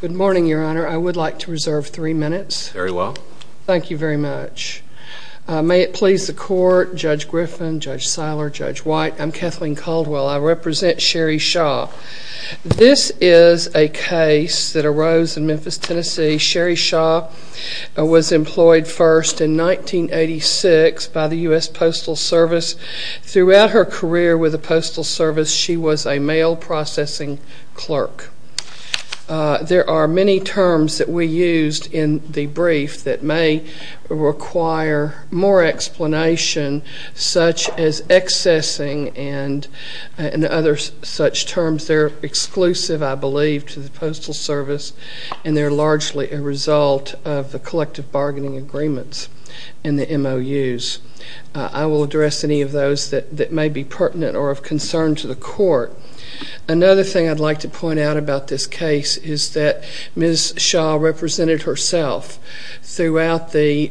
Good morning, Your Honor. I would like to reserve three minutes. Very well. Thank you very much. May it please the Court, Judge Griffin, Judge Siler, Judge White, I'm Kathleen Caldwell. I represent Sherri Shaw. This is a case that arose in Memphis, Tennessee. Sherri Shaw was employed first in 1986 by the U.S. Postal Service. Throughout her career with the Postal Service, she was a mail processing clerk. There are many terms that we used in the brief that may require more explanation, such as accessing and other such terms. They're exclusive, I believe, to the Postal Service, and they're largely a result of the collective bargaining agreements in the MOUs. I will address any of those that may be pertinent or of concern to the Court. Another thing I'd like to point out about this case is that Ms. Shaw represented herself throughout the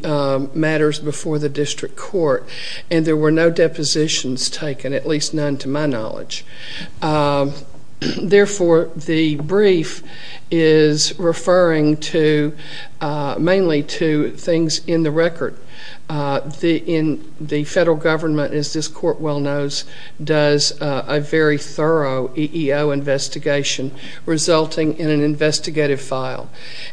matters before the District Court, and there were no depositions taken, at least none to my knowledge. Therefore, the brief is referring mainly to things in the record. The federal government, as this Court well knows, does a very thorough EEO investigation, resulting in an investigative file.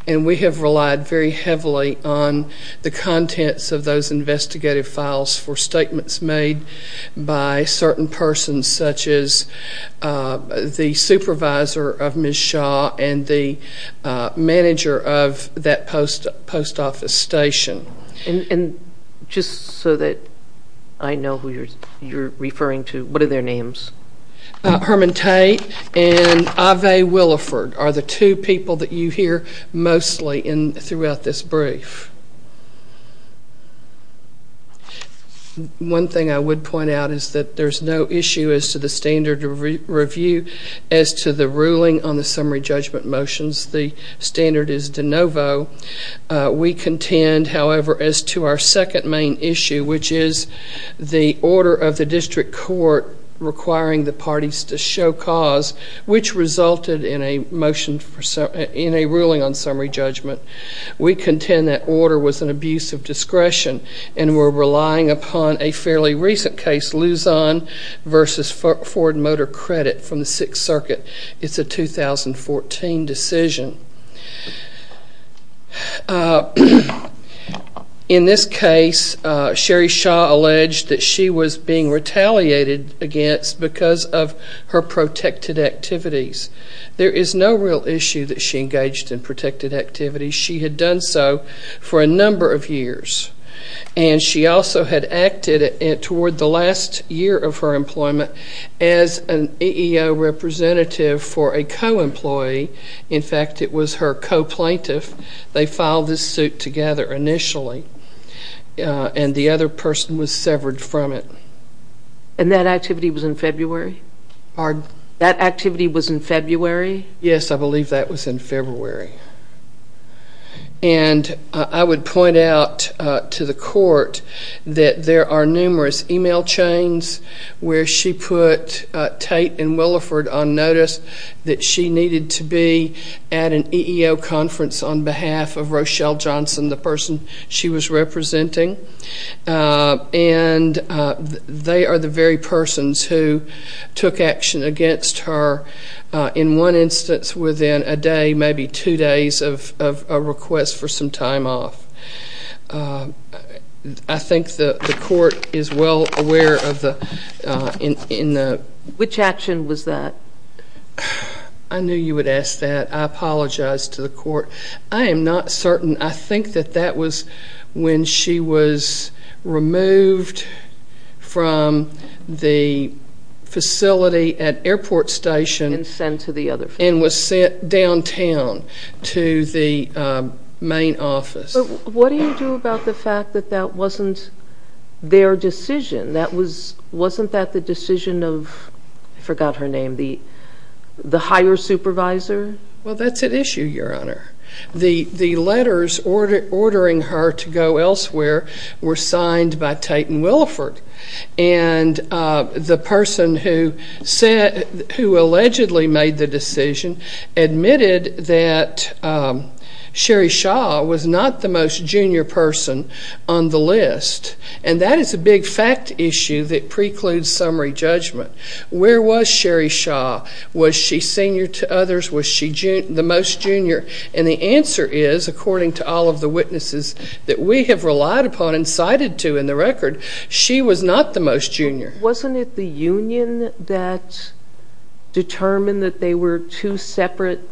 And we have relied very heavily on the contents of those investigative files for statements made by certain persons, such as the supervisor of Ms. Shaw and the manager of that post office station. And just so that I know who you're referring to, what are their names? Herman Tate and Ave Williford are the two people that you hear mostly throughout this brief. One thing I would point out is that there's no issue as to the standard review as to the ruling on the summary judgment motions. The standard is de novo. We contend, however, as to our second main issue, which is the order of the District Court requiring the parties to show cause, which resulted in a ruling on summary discretion, and we're relying upon a fairly recent case, Luzon v. Ford Motor Credit from the Sixth Circuit. It's a 2014 decision. In this case, Sherry Shaw alleged that she was being retaliated against because of her protected activities. There is no real issue that she engaged in protected activities. She had done so for a number of years. And she also had acted toward the last year of her employment as an EEO representative for a co-employee. In fact, it was her co-plaintiff. They filed this suit together initially, and the other person was severed from it. And that activity was in February? Pardon? That activity was in February? Yes, I believe that was in February. And I would point out to the Court that there are numerous email chains where she put Tate and Williford on notice that she needed to be at an EEO conference on behalf of Rochelle Johnson, the person she was representing. And they are the very persons who took action against her in one instance within a day, maybe two days, of a request for some time off. I think the Court is well aware of the... Which action was that? I knew you would ask that. I apologize to the Court. I am not certain. I think that that was when she was removed from the facility at Airport Station... And sent to the other facility. And was sent downtown to the main office. But what do you do about the fact that that wasn't their decision? Wasn't that the decision of, I forgot her name, the higher supervisor? Well, that's at issue, Your Honor. The letters ordering her to go elsewhere were signed by Tate and Williford. And the person who allegedly made the decision admitted that Sherry Shaw was not the most junior person on the list. And that is a big fact issue that precludes summary judgment. Where was Sherry Shaw? Was she senior to others? Was she the most junior? And the answer is, according to all of the witnesses that we have relied upon and cited to in the record, she was not the most junior. Wasn't it the union that determined that they were two separate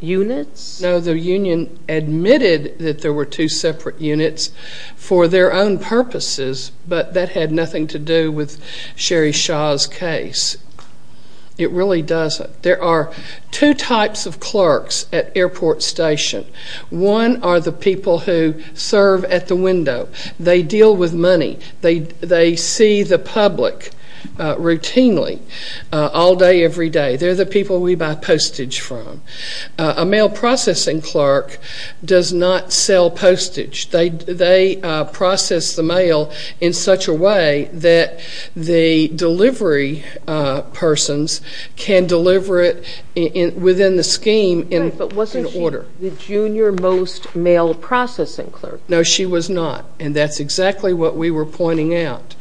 units? No, the union admitted that there were two separate units for their own purposes. But that had nothing to do with Sherry Shaw's case. It really doesn't. There are two types of clerks at airport station. One are the people who serve at the window. They deal with money. They see the public routinely, all day, every day. They're the people we buy postage from. A mail processing clerk does not sell postage. They process the mail in such a way that the delivery persons can deliver it within the scheme in order. But wasn't she the junior most mail processing clerk? No, she was not. And that's exactly what we were pointing out.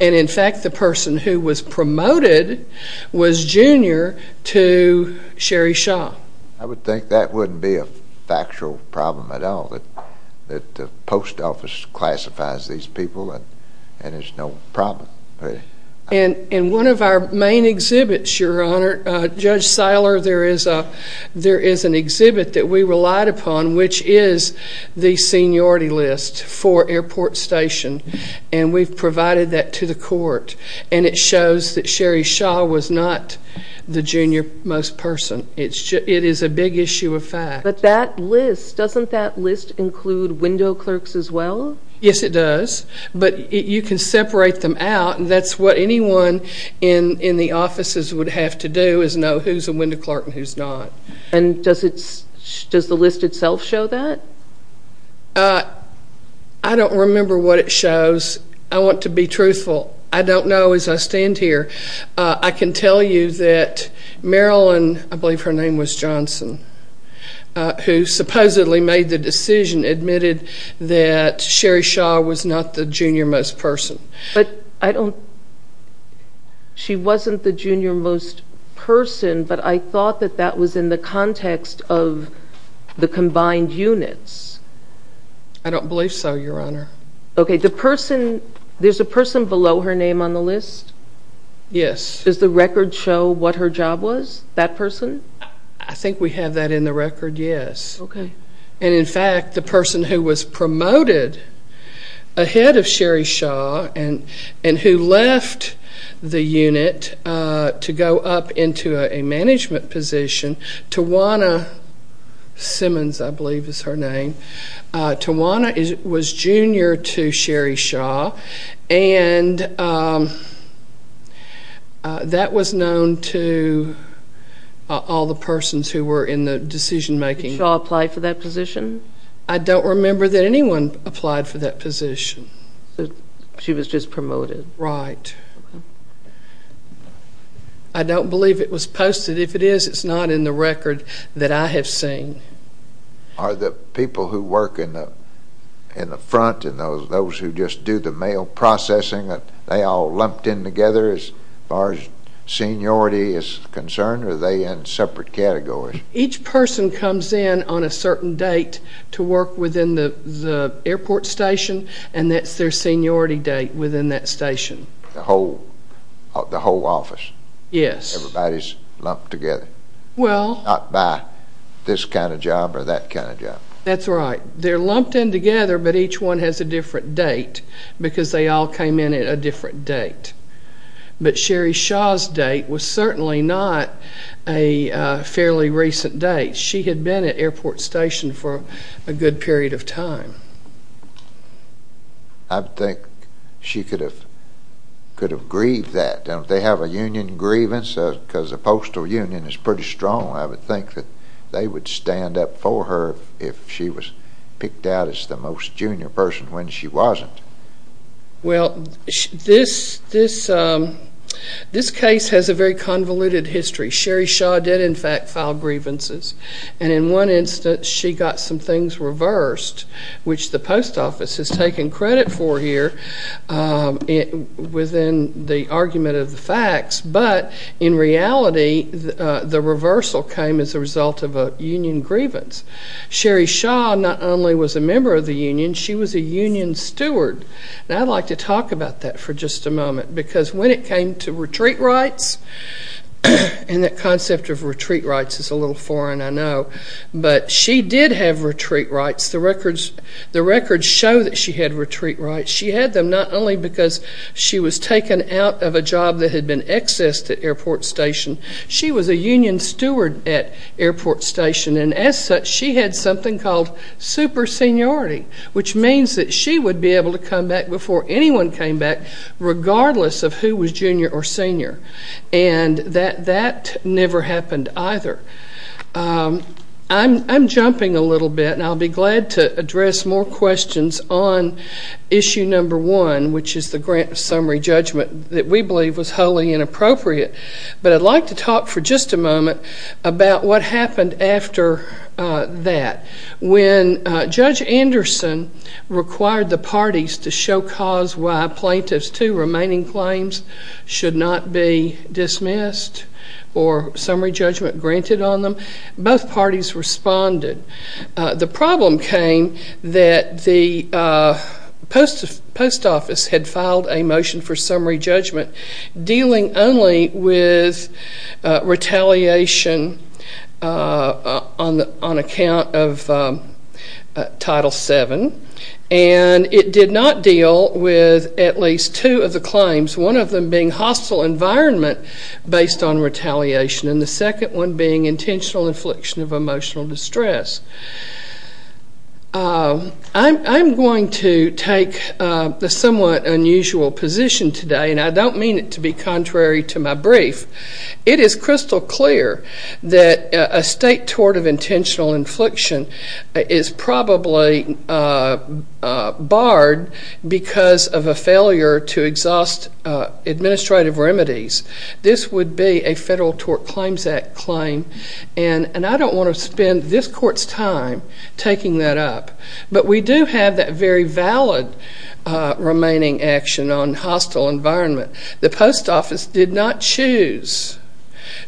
And in fact, the person who was promoted was junior to Sherry Shaw. I would think that wouldn't be a factual problem at all, that the post office classifies these people and there's no problem. In one of our main exhibits, Your Honor, Judge Saylor, there is an exhibit that we relied upon, which is the seniority list for airport station. And we've provided that to the court. And it shows that Sherry Shaw was not the junior most person. It is a big issue of fact. But that list, doesn't that list include window clerks as well? Yes, it does. But you can separate them out. And that's what anyone in the offices would have to do, is know who's a window clerk and who's not. And does the list itself show that? I don't remember what it shows. I want to be truthful. I don't know as I stand here. I can tell you that Marilyn, I believe her name was Johnson, who supposedly made the decision, admitted that Sherry Shaw was not the junior most person. But I don't, she wasn't the junior most person. But I thought that that was in the context of the combined units. I don't believe so, Your Honor. Okay, the person, there's a person below her name on the list? Yes. Does the record show what her job was, that person? I think we have that in the record, yes. Okay. And in fact, the person who was promoted ahead of Sherry Shaw and who left the unit to go up into a management position, Tawana Simmons, I believe is her name. Tawana was junior to Sherry Shaw. And that was known to all the persons who were in the decision making. Did Shaw apply for that position? I don't remember that anyone applied for that position. She was just promoted. Right. I don't believe it was posted. If it is, it's not in the record that I have seen. Are the people who work in the front and those who just do the mail processing, they all lumped in together as far as seniority is concerned? Are they in separate categories? Each person comes in on a certain date to work within the airport station, and that's their seniority date within that station. The whole office? Yes. Everybody's lumped together? Well... Not by this kind of job or that kind of job. That's right. They're lumped in together, but each one has a different date because they all came in at a different date. But Sherry Shaw's date was certainly not a fairly recent date. She had been at airport station for a good period of time. I think she could have grieved that. They have a union grievance because the postal union is pretty strong. I would think that they would stand up for her if she was picked out as the most junior person when she wasn't. Well, this case has a very convoluted history. Sherry Shaw did, in fact, file grievances. And in one instance, she got some things reversed, which the post office has taken credit for here within the argument of the facts. But in reality, the reversal came as a result of a union grievance. Sherry Shaw not only was a member of the union, she was a union steward. And I'd like to talk about that for just a moment because when it came to retreat rights, and that concept of retreat rights is a little foreign, I know, but she did have retreat rights. The records show that she had retreat rights. She had them not only because she was taken out of a job that had been accessed at airport station, she was a union steward at airport station. And as such, she had something called super seniority, which means that she would be able to come back before anyone came back regardless of who was junior or senior. And that never happened either. I'm jumping a little bit, and I'll be glad to address more questions on issue number one, which is the grant of summary judgment that we believe was wholly inappropriate. But I'd like to talk for just a moment about what happened after that. When Judge Anderson required the parties to show cause why plaintiffs' two remaining claims should not be dismissed or summary judgment granted on them, both parties responded. The problem came that the post office had filed a motion for summary judgment dealing only with retaliation on account of Title VII, and it did not deal with at least two of the claims, one of them being hostile environment based on retaliation, and the second one being intentional infliction of emotional distress. I'm going to take the somewhat unusual position today, and I don't mean it to be contrary to my brief. It is crystal clear that a state tort of intentional infliction is probably barred because of a failure to exhaust administrative remedies. This would be a Federal Tort Claims Act claim, and I don't want to spend this court's time taking that up. But we do have that very valid remaining action on hostile environment. The post office did not choose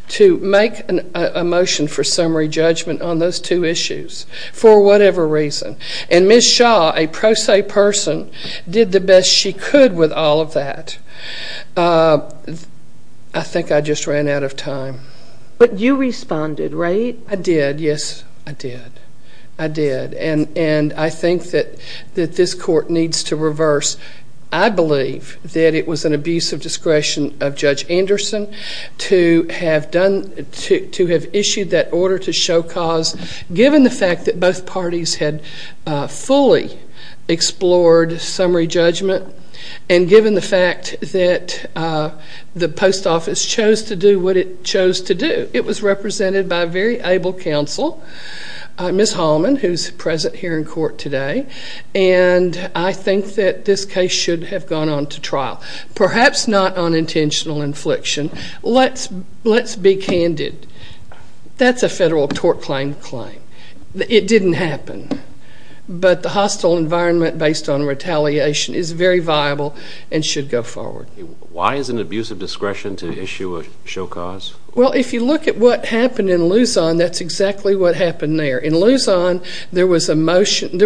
to make a motion for summary judgment on those two issues, for whatever reason. And Ms. Shaw, a pro se person, did the best she could with all of that. I think I just ran out of time. But you responded, right? I did, yes, I did. I did, and I think that this court needs to reverse. I believe that it was an abuse of discretion of Judge Anderson to have issued that order to show cause, given the fact that both parties had fully explored summary judgment, and given the fact that the post office chose to do what it chose to do. It was represented by a very able counsel, Ms. Hallman, who's present here in court today. And I think that this case should have gone on to trial, perhaps not on intentional infliction. Let's be candid. That's a Federal Tort Claim claim. It didn't happen. But the hostile environment based on retaliation is very viable and should go forward. Why is it an abuse of discretion to issue a show cause? Well, if you look at what happened in Luzon, that's exactly what happened there. In Luzon, there was a motion. And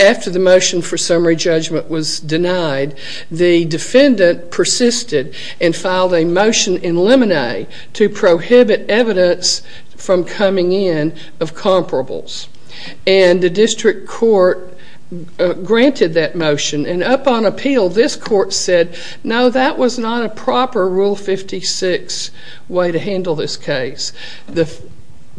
after the motion for summary judgment was denied, the defendant persisted and filed a motion in limine to prohibit evidence from coming in of comparables. And the district court granted that motion. And up on appeal, this court said, no, that was not a proper Rule 56 way to handle this case.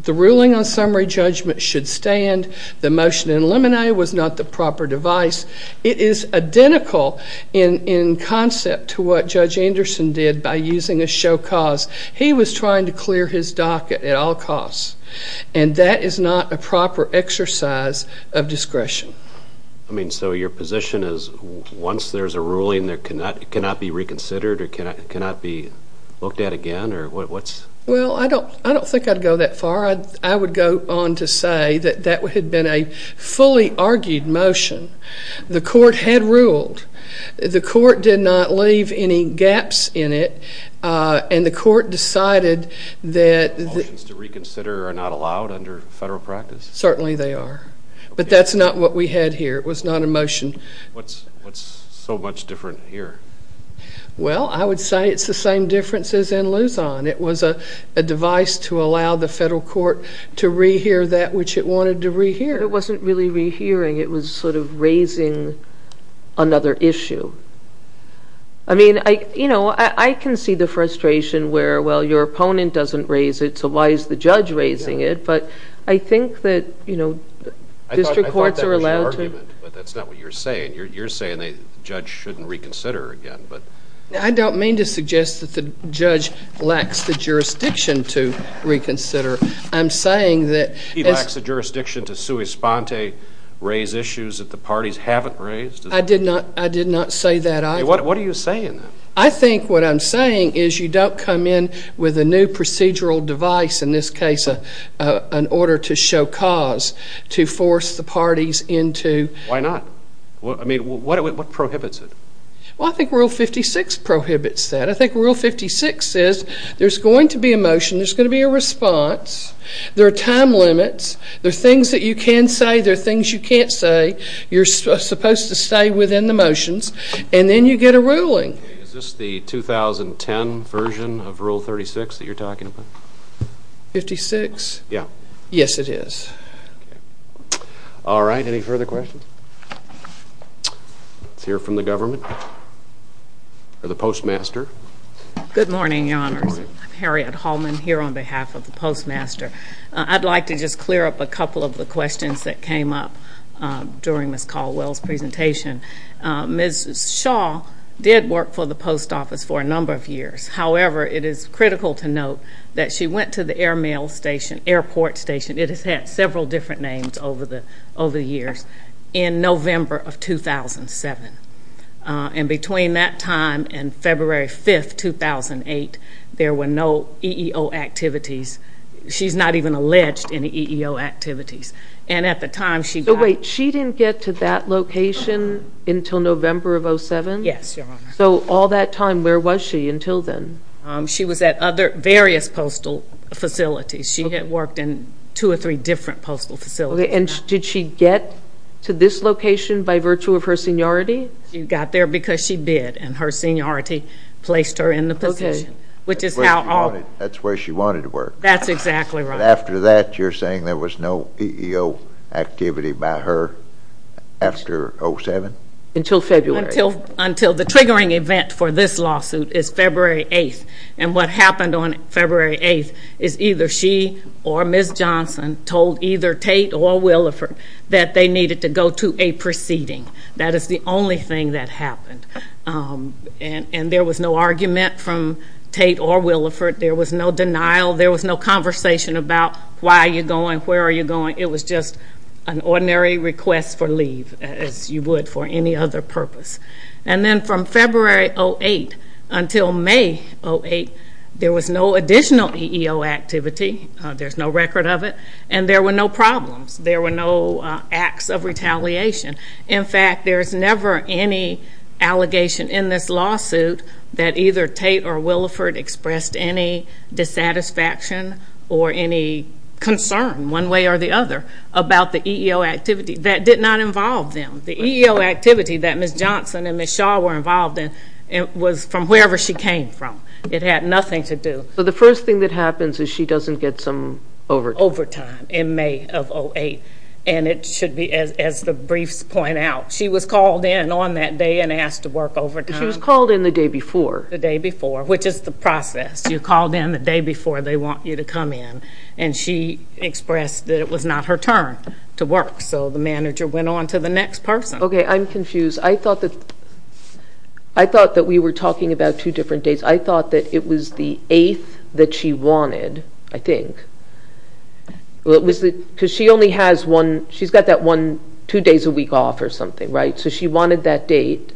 The ruling on summary judgment should stand. The motion in limine was not the proper device. It is identical in concept to what Judge Anderson did by using a show cause. He was trying to clear his docket at all costs. And that is not a proper exercise of discretion. I mean, so your position is once there's a ruling that cannot be reconsidered or cannot be looked at again, or what's? Well, I don't think I'd go that far. I would go on to say that that had been a fully argued motion. The court had ruled. The court did not leave any gaps in it. And the court decided that. The motions to reconsider are not allowed under federal practice? Certainly they are. But that's not what we had here. It was not a motion. What's so much different here? Well, I would say it's the same difference as in Luzon. It was a device to allow the federal court to rehear that which it wanted to rehear. It wasn't really rehearing. It was sort of raising another issue. I mean, I can see the frustration where, well, your opponent doesn't raise it. So why is the judge raising it? But I think that district courts are allowed to. I thought that was your argument. But that's not what you're saying. You're saying the judge shouldn't reconsider again. I don't mean to suggest that the judge lacks the jurisdiction to reconsider. I'm saying that. He lacks the jurisdiction to sui sponte, raise issues that the parties haven't raised? I did not say that either. What are you saying then? I think what I'm saying is you don't come in with a new procedural device. In this case, an order to show cause to force the parties into. Why not? I mean, what prohibits it? Well, I think Rule 56 prohibits that. I think Rule 56 says there's going to be a motion. There's going to be a response. There are time limits. There are things that you can say. There are things you can't say. You're supposed to stay within the motions. And then you get a ruling. Is this the 2010 version of Rule 36 that you're talking about? 56? Yeah. Yes, it is. All right. Any further questions? Let's hear from the government or the postmaster. Good morning, your honors. I'm Harriet Hallman here on behalf of the postmaster. I'd like to just clear up a couple of the questions that came up during Ms. Caldwell's presentation. Ms. Shaw did work for the post office for a number of years. However, it is critical to note that she went to the air mail station, airport station. It has had several different names over the years, in November of 2007. And between that time and February 5, 2008, there were no EEO activities. She's not even alleged any EEO activities. And at the time, she got- But wait, she didn't get to that location until November of 07? Yes, your honor. So all that time, where was she until then? She was at various postal facilities. She had worked in two or three different postal facilities. And did she get to this location by virtue of her seniority? She got there because she bid, and her seniority placed her in the position, which is how all- That's where she wanted to work. That's exactly right. After that, you're saying there was no EEO activity by her after 07? Until February. Until the triggering event for this lawsuit is February 8. And what happened on February 8 is either she or Ms. Johnson told either Tate or Williford that they needed to go to a proceeding. That is the only thing that happened. And there was no argument from Tate or Williford. There was no denial. There was no conversation about why are you going, where are you going. It was just an ordinary request for leave, as you would for any other purpose. And then from February 08 until May 08, there was no additional EEO activity. There's no record of it. And there were no problems. There were no acts of retaliation. In fact, there's never any allegation in this lawsuit that either Tate or Williford expressed any dissatisfaction or any concern, one way or the other, about the EEO activity. That did not involve them. The EEO activity that Ms. Johnson and Ms. Shaw were involved in was from wherever she came from. It had nothing to do. So the first thing that happens is she doesn't get some overtime. Overtime in May of 08. And it should be, as the briefs point out, she was called in on that day and asked to work overtime. She was called in the day before. The day before, which is the process. You're called in the day before they want you to come in. And she expressed that it was not her turn to work. So the manager went on to the next person. OK, I'm confused. I thought that we were talking about two different days. I thought that it was the 8th that she wanted, I think. She's got that two days a week off or something, right? So she wanted that date.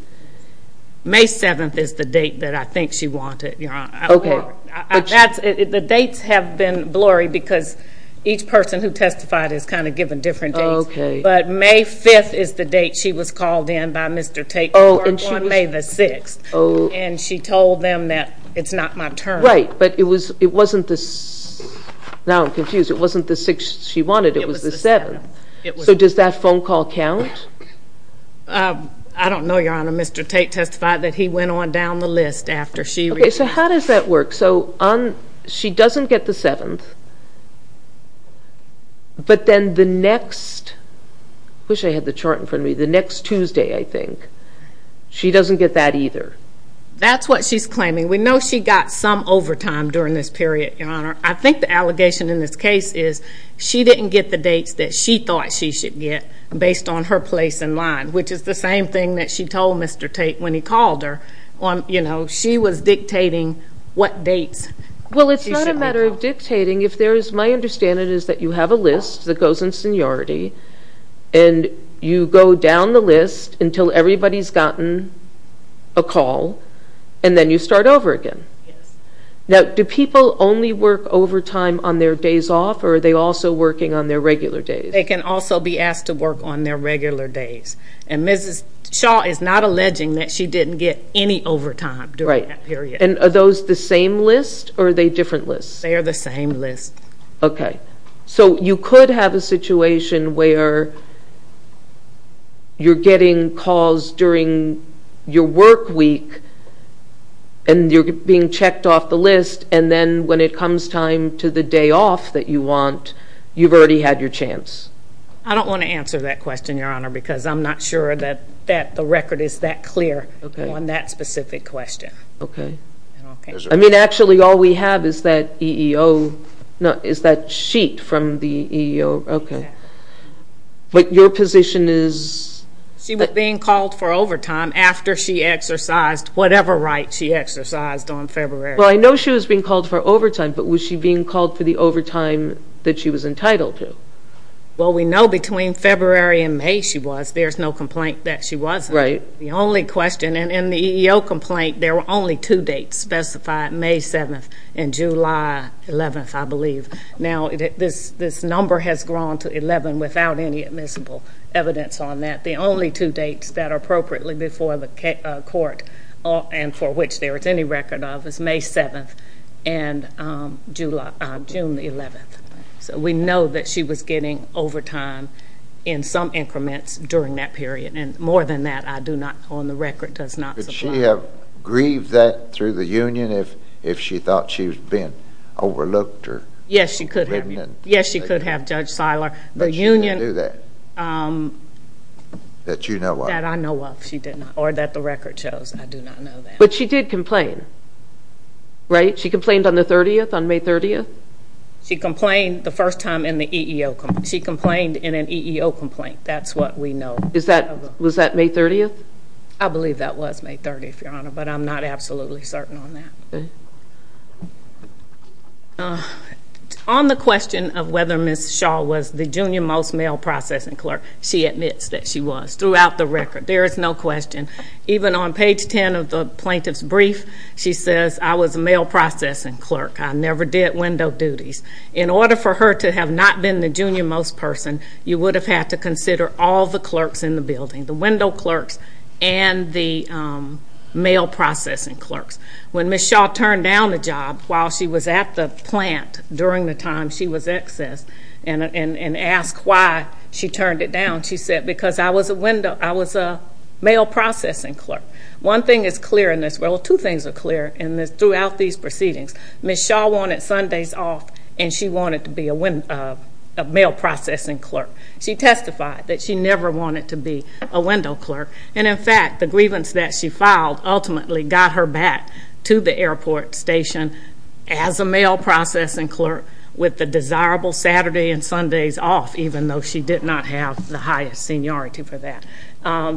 May 7th is the date that I think she wanted. The dates have been blurry because each person who testified has kind of given different dates. But May 5th is the date she was called in by Mr. Tate to work on May the 6th. And she told them that it's not my turn. Right, but it wasn't this. Now I'm confused. It wasn't the 6th she wanted. It was the 7th. So does that phone call count? I don't know, Your Honor. Mr. Tate testified that he went on down the list after she. OK, so how does that work? So she doesn't get the 7th. But then the next, I wish I had the chart in front of me, the next Tuesday, I think, she doesn't get that either. That's what she's claiming. We know she got some overtime during this period, Your Honor. I think the allegation in this case is she didn't get the dates that she thought she should get based on her place in line, which is the same thing that she told Mr. Tate when he called her. Well, you know, she was dictating what dates. Well, it's not a matter of dictating. My understanding is that you have a list that goes in seniority and you go down the list until everybody's gotten a call and then you start over again. Now, do people only work overtime on their days off or are they also working on their regular days? They can also be asked to work on their regular days. And Mrs. Shaw is not alleging that she didn't get any overtime during that period. And are those the same list or are they different lists? They are the same list. Okay. So you could have a situation where you're getting calls during your work week and you're being checked off the list and then when it comes time to the day off that you want, you've already had your chance. I don't want to answer that question, Your Honor, because I'm not sure that the record is that clear on that specific question. Okay. I mean, actually, all we have is that EEO, is that sheet from the EEO. Okay. But your position is... She was being called for overtime after she exercised whatever right she exercised on February. Well, I know she was being called for overtime, but was she being called for the overtime that she was entitled to? Well, we know between February and May she was. There's no complaint that she wasn't. Right. The only question, and in the EEO complaint, there were only two dates specified, May 7th and July 11th, I believe. Now, this number has grown to 11 without any admissible evidence on that. The only two dates that are appropriately before the court and for which there is any record of is May 7th and June 11th. So we know that she was getting overtime in some increments during that period. And more than that, I do not, on the record, does not... Did she have grieved that through the union if she thought she was being overlooked or... Yes, she could have. Yes, she could have, Judge Seiler. But she didn't do that. That you know of. That I know of, she did not, or that the record shows. I do not know that. But she did complain, right? She complained on the 30th, on May 30th? She complained the first time in the EEO. She complained in an EEO complaint. That's what we know. Is that... Was that May 30th? I believe that was May 30th, Your Honor, but I'm not absolutely certain on that. On the question of whether Ms. Shaw was the junior-most mail processing clerk, she admits that she was throughout the record. There is no question. Even on page 10 of the plaintiff's brief, she says, I was a mail processing clerk. I never did window duties. In order for her to have not been the junior-most person, you would have had to consider all the clerks in the building. The window clerks and the mail processing clerks. When Ms. Shaw turned down the job while she was at the plant, during the time she was excess, and asked why she turned it down, she said, because I was a window... I was a mail processing clerk. One thing is clear in this... Well, two things are clear throughout these proceedings. Ms. Shaw wanted Sundays off, and she wanted to be a mail processing clerk. She testified that she never wanted to be a window clerk. And in fact, the grievance that she filed ultimately got her back to the airport station as a mail processing clerk with the desirable Saturday and Sundays off, even though she did not have the highest seniority for that.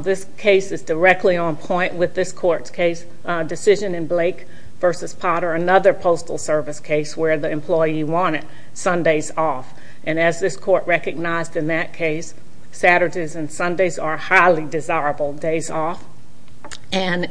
This case is directly on point with this court's case decision in Blake v. Potter. Another postal service case where the employee wanted Sundays off. And as this court recognized in that case, Saturdays and Sundays are highly desirable days off. And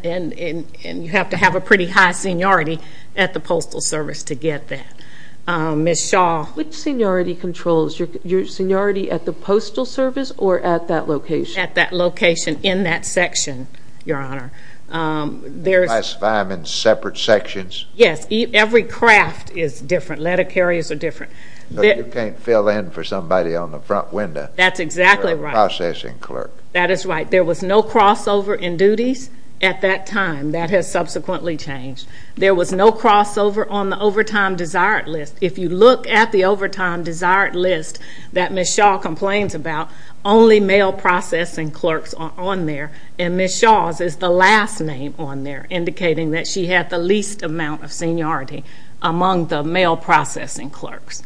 you have to have a pretty high seniority at the postal service to get that. Ms. Shaw, which seniority controls? Your seniority at the postal service or at that location? At that location, in that section, Your Honor. Classify them in separate sections? Yes. Every craft is different. Letter carriers are different. But you can't fill in for somebody on the front window. That's exactly right. A processing clerk. That is right. There was no crossover in duties at that time. That has subsequently changed. There was no crossover on the overtime desired list. If you look at the overtime desired list that Ms. Shaw complains about, only mail processing clerks are on there. And Ms. Shaw's is the last name on there, indicating that she had the least amount of seniority among the mail processing clerks.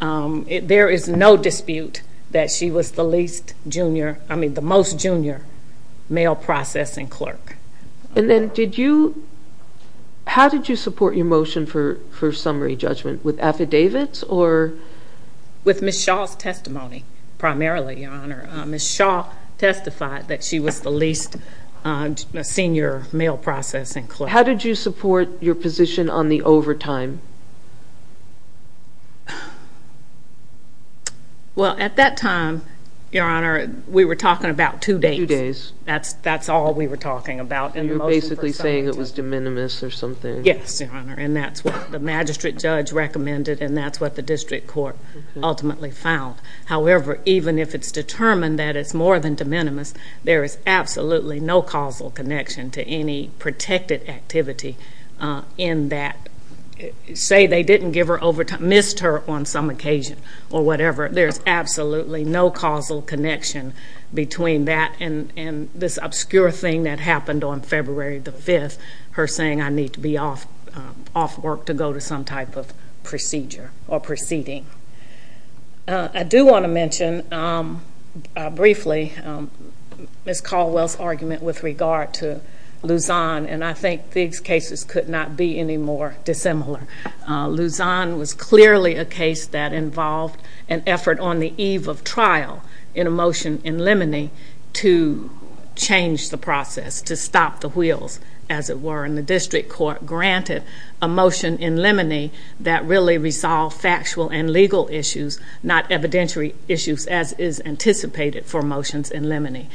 There is no dispute that she was the most junior mail processing clerk. And then did you... How did you support your motion for summary judgment? With affidavits or...? Ms. Shaw testified that she was the least senior mail processing clerk. How did you support your position on the overtime? Well, at that time, Your Honor, we were talking about two days. Two days. That's all we were talking about. And you're basically saying it was de minimis or something. Yes, Your Honor. And that's what the magistrate judge recommended. And that's what the district court ultimately found. However, even if it's determined that it's more than de minimis, there is absolutely no causal connection to any protected activity in that... Say they didn't give her overtime, missed her on some occasion or whatever. There's absolutely no causal connection between that and this obscure thing that happened on February the 5th, her saying, I need to be off work to go to some type of procedure or proceeding. I do want to mention briefly Ms. Caldwell's argument with regard to Luzon. And I think these cases could not be any more dissimilar. Luzon was clearly a case that involved an effort on the eve of trial in a motion in limine to change the process, to stop the wheels, as it were. And the district court granted a motion in limine that really resolved factual and legal issues, not evidentiary issues as is anticipated for motions in limine.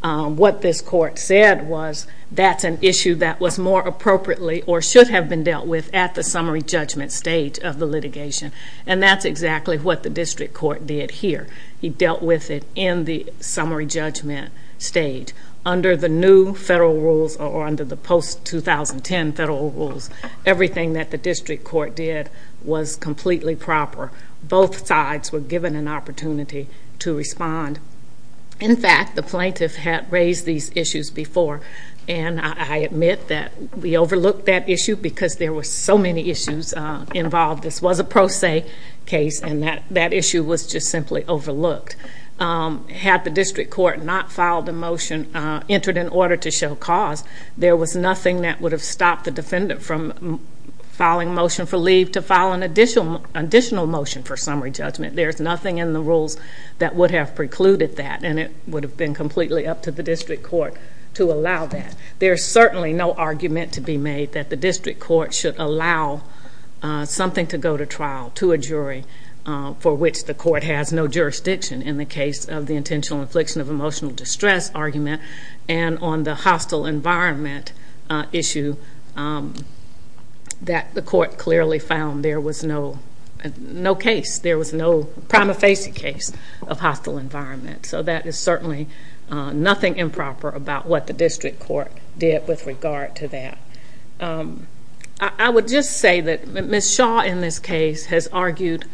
What this court said was that's an issue that was more appropriately or should have been dealt with at the summary judgment stage of the litigation. And that's exactly what the district court did here. He dealt with it in the summary judgment stage. Under the new federal rules or under the post-2010 federal rules, everything that the district court did was completely proper. Both sides were given an opportunity to respond. In fact, the plaintiff had raised these issues before. And I admit that we overlooked that issue because there were so many issues involved. This was a pro se case and that issue was just simply overlooked. Had the district court not filed the motion, entered an order to show cause, there was nothing that would have stopped the defendant from filing a motion for leave to file an additional motion for summary judgment. There's nothing in the rules that would have precluded that. And it would have been completely up to the district court to allow that. There's certainly no argument to be made that the district court should allow something to go to trial to a jury for which the court has no jurisdiction in the case of the intentional infliction of emotional distress argument. And on the hostile environment issue, that the court clearly found there was no case. There was no prima facie case of hostile environment. So that is certainly nothing improper about what the district court did with regard to that. I would just say that Ms. Shaw in this case has argued,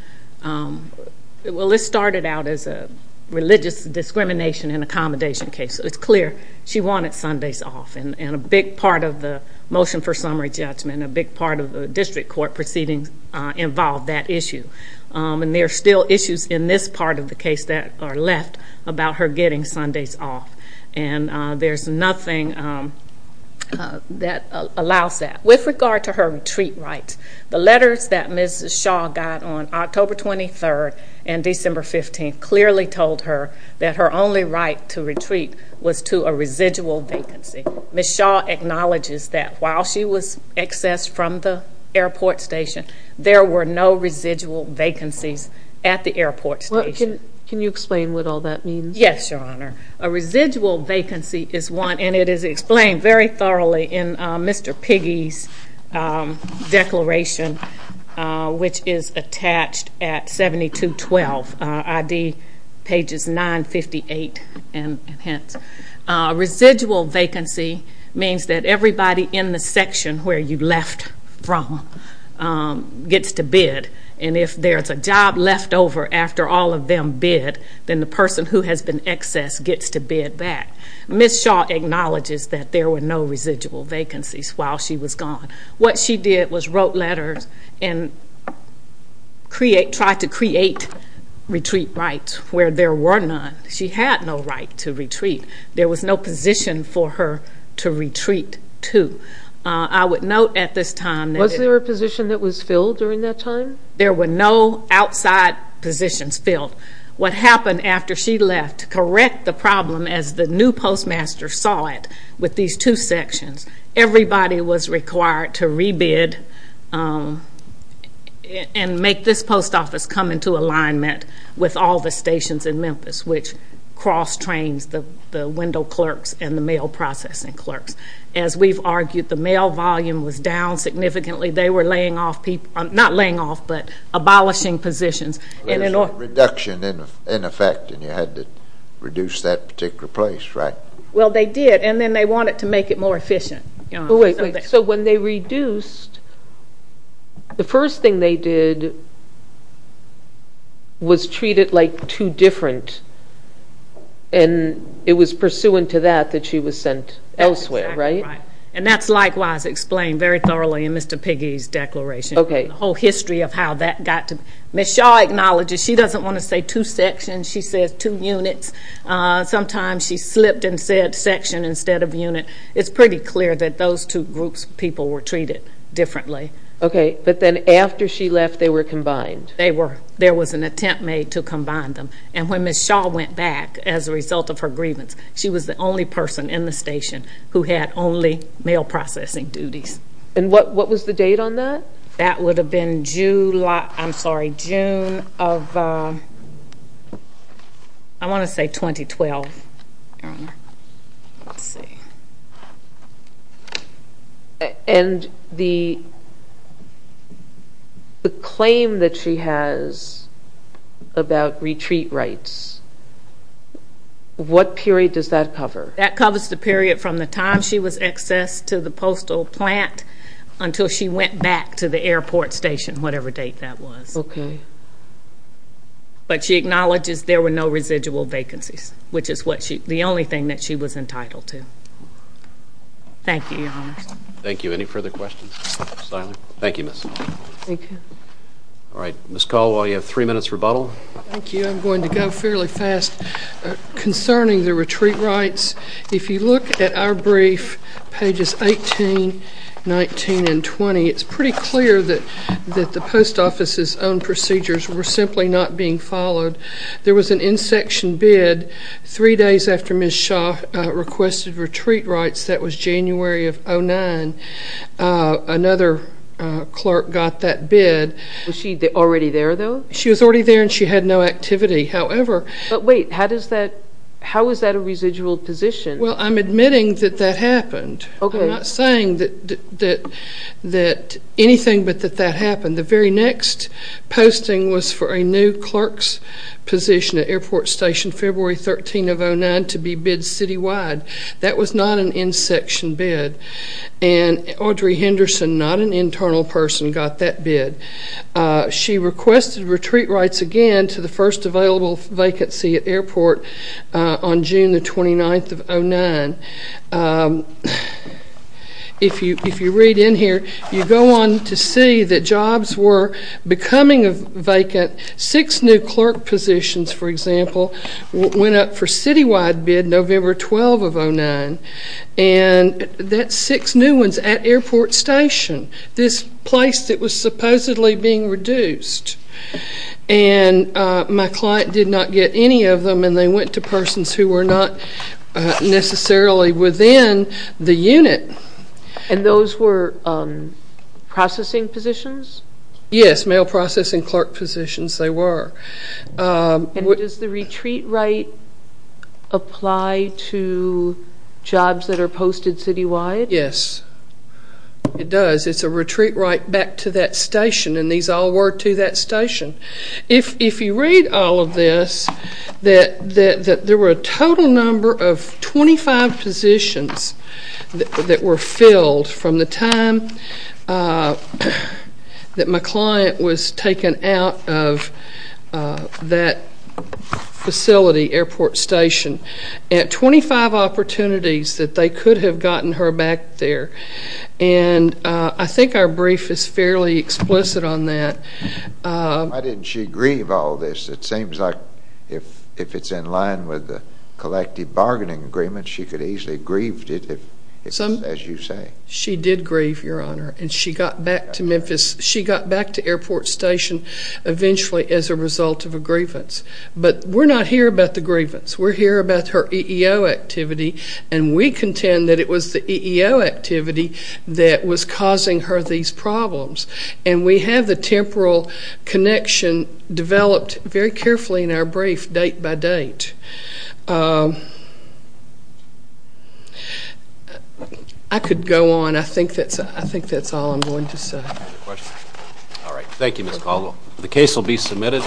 well, this started out as a religious discrimination and accommodation case. It's clear she wanted Sundays off and a big part of the motion for summary judgment, a big part of the district court proceedings involved that issue. And there are still issues in this part of the case that are left about her getting Sundays off. And there's nothing that allows that. With regard to her retreat rights, the letters that Ms. Shaw got on October 23rd and December 15th clearly told her that her only right to retreat was to a residual vacancy. Ms. Shaw acknowledges that while she was accessed from the airport station, there were no residual vacancies at the airport station. Can you explain what all that means? Yes, Your Honor. A residual vacancy is one, and it is explained very thoroughly in Mr. Piggy's declaration, which is attached at 7212, ID pages 958 and hence. A residual vacancy means that everybody in the section where you left from gets to bid. And if there's a job left over after all of them bid, then the person who has been accessed gets to bid back. Ms. Shaw acknowledges that there were no residual vacancies while she was gone. What she did was wrote letters and tried to create retreat rights where there were none. She had no right to retreat. There was no position for her to retreat to. I would note at this time that... Was there a position that was filled during that time? There were no outside positions filled. What happened after she left, correct the problem as the new postmaster saw it, with these two sections, everybody was required to rebid and make this post office come into alignment with all the stations in Memphis, which cross trains the window clerks and the mail processing clerks. As we've argued, the mail volume was down significantly. They were laying off people, not laying off, but abolishing positions. There was a reduction in effect, and you had to reduce that particular place, right? Well, they did, and then they wanted to make it more efficient. So when they reduced, the first thing they did was treat it like two different, and it was pursuant to that that she was sent elsewhere, right? And that's likewise explained very thoroughly in Mr. Piggy's declaration, the whole history of how that got to... Ms. Shaw acknowledges she doesn't want to say two sections. She says two units. Sometimes she slipped and said section instead of unit. It's pretty clear that those two groups of people were treated differently. Okay, but then after she left, they were combined. They were. There was an attempt made to combine them, and when Ms. Shaw went back as a result of her grievance, she was the only person in the station who had only mail processing duties. And what was the date on that? That would have been July... I'm sorry, June of... I want to say 2012. Let's see. And the claim that she has about retreat rights, what period does that cover? That covers the period from the time she was accessed to the postal plant until she went back to the airport station, whatever date that was. Okay. But she acknowledges there were no residual vacancies, which is the only thing that she was entitled to. Thank you, Your Honors. Thank you. Any further questions? Thank you, Ms. All right. Ms. Caldwell, you have three minutes rebuttal. Thank you. I'm going to go fairly fast concerning the retreat rights. If you look at our brief, pages 18, 19, and 20, it's pretty clear that the post office's own procedures were simply not being followed. There was an in-section bid three days after Ms. Shaw requested retreat rights. That was January of 2009. Another clerk got that bid. Was she already there, though? She was already there and she had no activity. However... Wait, how is that a residual position? Well, I'm admitting that that happened. Okay. I'm not saying that anything but that that happened. The very next posting was for a new clerk's position at airport station, February 13 of 2009, to be bid citywide. That was not an in-section bid. And Audrey Henderson, not an internal person, got that bid. She requested retreat rights again to the first available vacancy at airport on June 29 of 2009. If you read in here, you go on to see that jobs were becoming vacant. Six new clerk positions, for example, went up for citywide bid November 12 of 2009. And that's six new ones at airport station. This place that was supposedly being reduced. And my client did not get any of them. And they went to persons who were not necessarily within the unit. And those were processing positions? Yes, mail processing clerk positions they were. And does the retreat right apply to jobs that are posted citywide? Yes, it does. It's a retreat right back to that station. And these all were to that station. If you read all of this, that there were a total number of 25 positions that were filled from the time that my client was taken out of that facility, airport station, at 25 opportunities that they could have gotten her back there. And I think our brief is fairly explicit on that. Why didn't she grieve all this? It seems like if it's in line with the collective bargaining agreement, she could have easily grieved it, as you say. She did grieve, Your Honor. And she got back to Memphis. She got back to airport station eventually as a result of a grievance. But we're not here about the grievance. We're here about her EEO activity. And we contend that it was the EEO activity that was causing her these problems. And we have the temporal connection developed very carefully in our brief, date by date. I could go on. I think that's all I'm going to say. All right. Thank you, Ms. Caldwell. The case will be submitted.